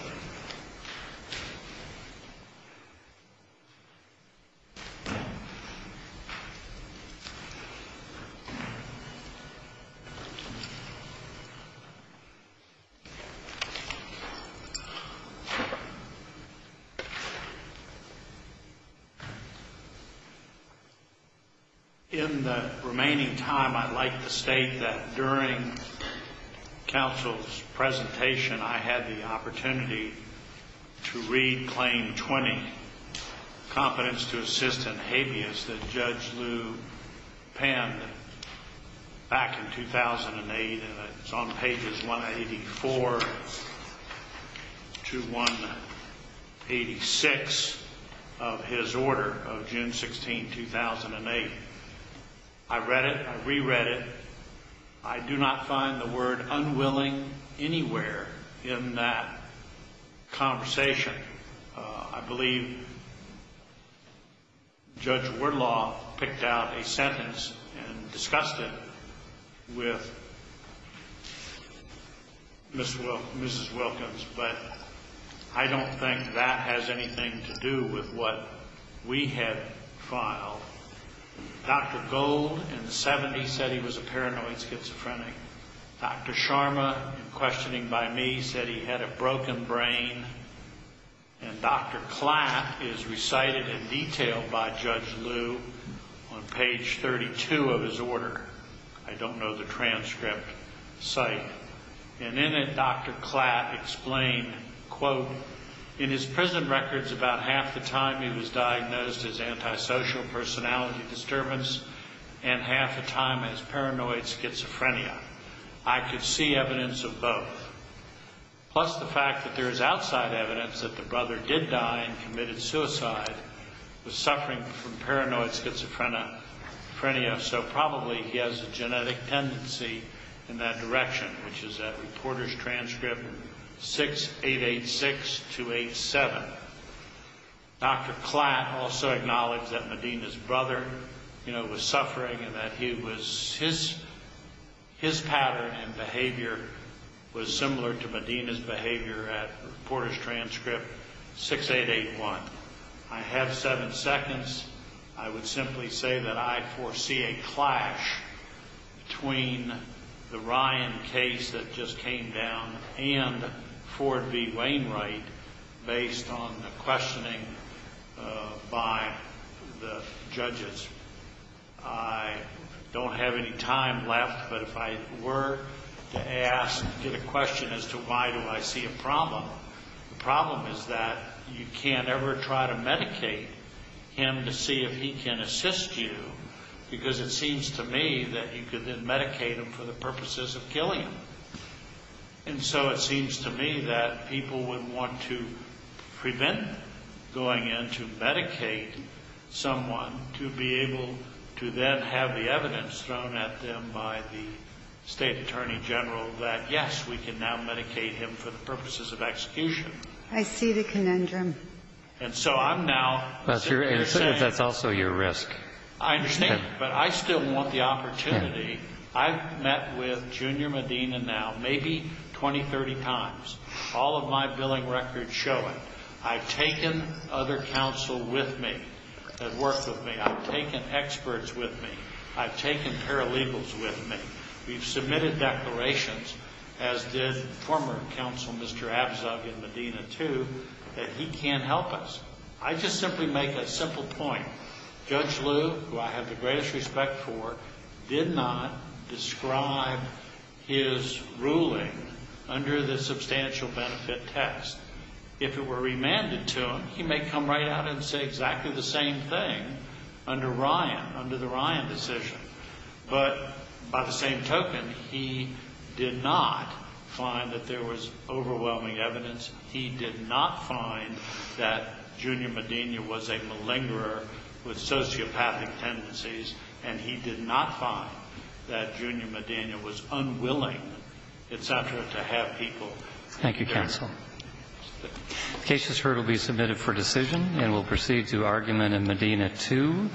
to read Claim 20, Competence to Assist in Habeas, that Judge Liu penned back in 2008, and it's on pages 184 to 186 of his order of June 16, 2008. I read it. I reread it. I do not find the word unwilling anywhere in that conversation. I believe Judge Wardlaw picked out a sentence and discussed it with Mrs. Wilkins, but I don't think that has anything to do with what we had filed. Dr. Gold, in the 70s, said he was a paranoid schizophrenic. Dr. Sharma, in questioning by me, said he had a broken brain. And Dr. Klatt is recited in detail by Judge Liu on page 32 of his order. I don't know the transcript. And in it, Dr. Klatt explained, quote, in his prison records, about half the time he was diagnosed as antisocial, personality disturbance, and half the time as paranoid schizophrenia. I could see evidence of both. Plus the fact that there is outside evidence that the brother did die and committed suicide, was suffering from paranoid schizophrenia, so probably he has a genetic tendency in that direction, which is at reporter's transcript 6886287. Dr. Klatt also acknowledged that Medina's brother was suffering and that his pattern and behavior was similar to Medina's behavior at reporter's transcript 6881. I have seven seconds. I would simply say that I foresee a clash between the Ryan case that just came down and Ford v. Wainwright based on the questioning by the judges. I don't have any time left, but if I were to ask a question as to why do I see a problem, the problem is that you can't ever try to medicate him to see if he can assist you, because it seems to me that you could then medicate him for the purposes of killing him. And so it seems to me that people would want to prevent going in to medicate someone to be able to then have the evidence thrown at them by the state attorney general that yes, we can now medicate him for the purposes of execution. I see the conundrum. And so I'm now simply saying... But that's also your risk. I understand, but I still want the opportunity. I've met with Junior Medina now maybe 20, 30 times. All of my billing records show it. I've taken other counsel with me that worked with me. I've taken experts with me. I've taken paralegals with me. We've submitted declarations, as did former counsel Mr. Abzug in Medina too, that he can't help us. I just simply make a simple point. Judge Liu, who I have the greatest respect for, did not describe his ruling under the substantial benefit text. If it were remanded to him, he may come right out and say exactly the same thing under Ryan, under the Ryan decision. But by the same token, he did not find that there was overwhelming evidence. He did not find that Junior Medina was a malingerer with sociopathic tendencies, and he did not find that Junior Medina was unwilling, et cetera, to have people there. Thank you, counsel. The case is heard and will be submitted for decision, and we'll proceed to argument in Medina 2.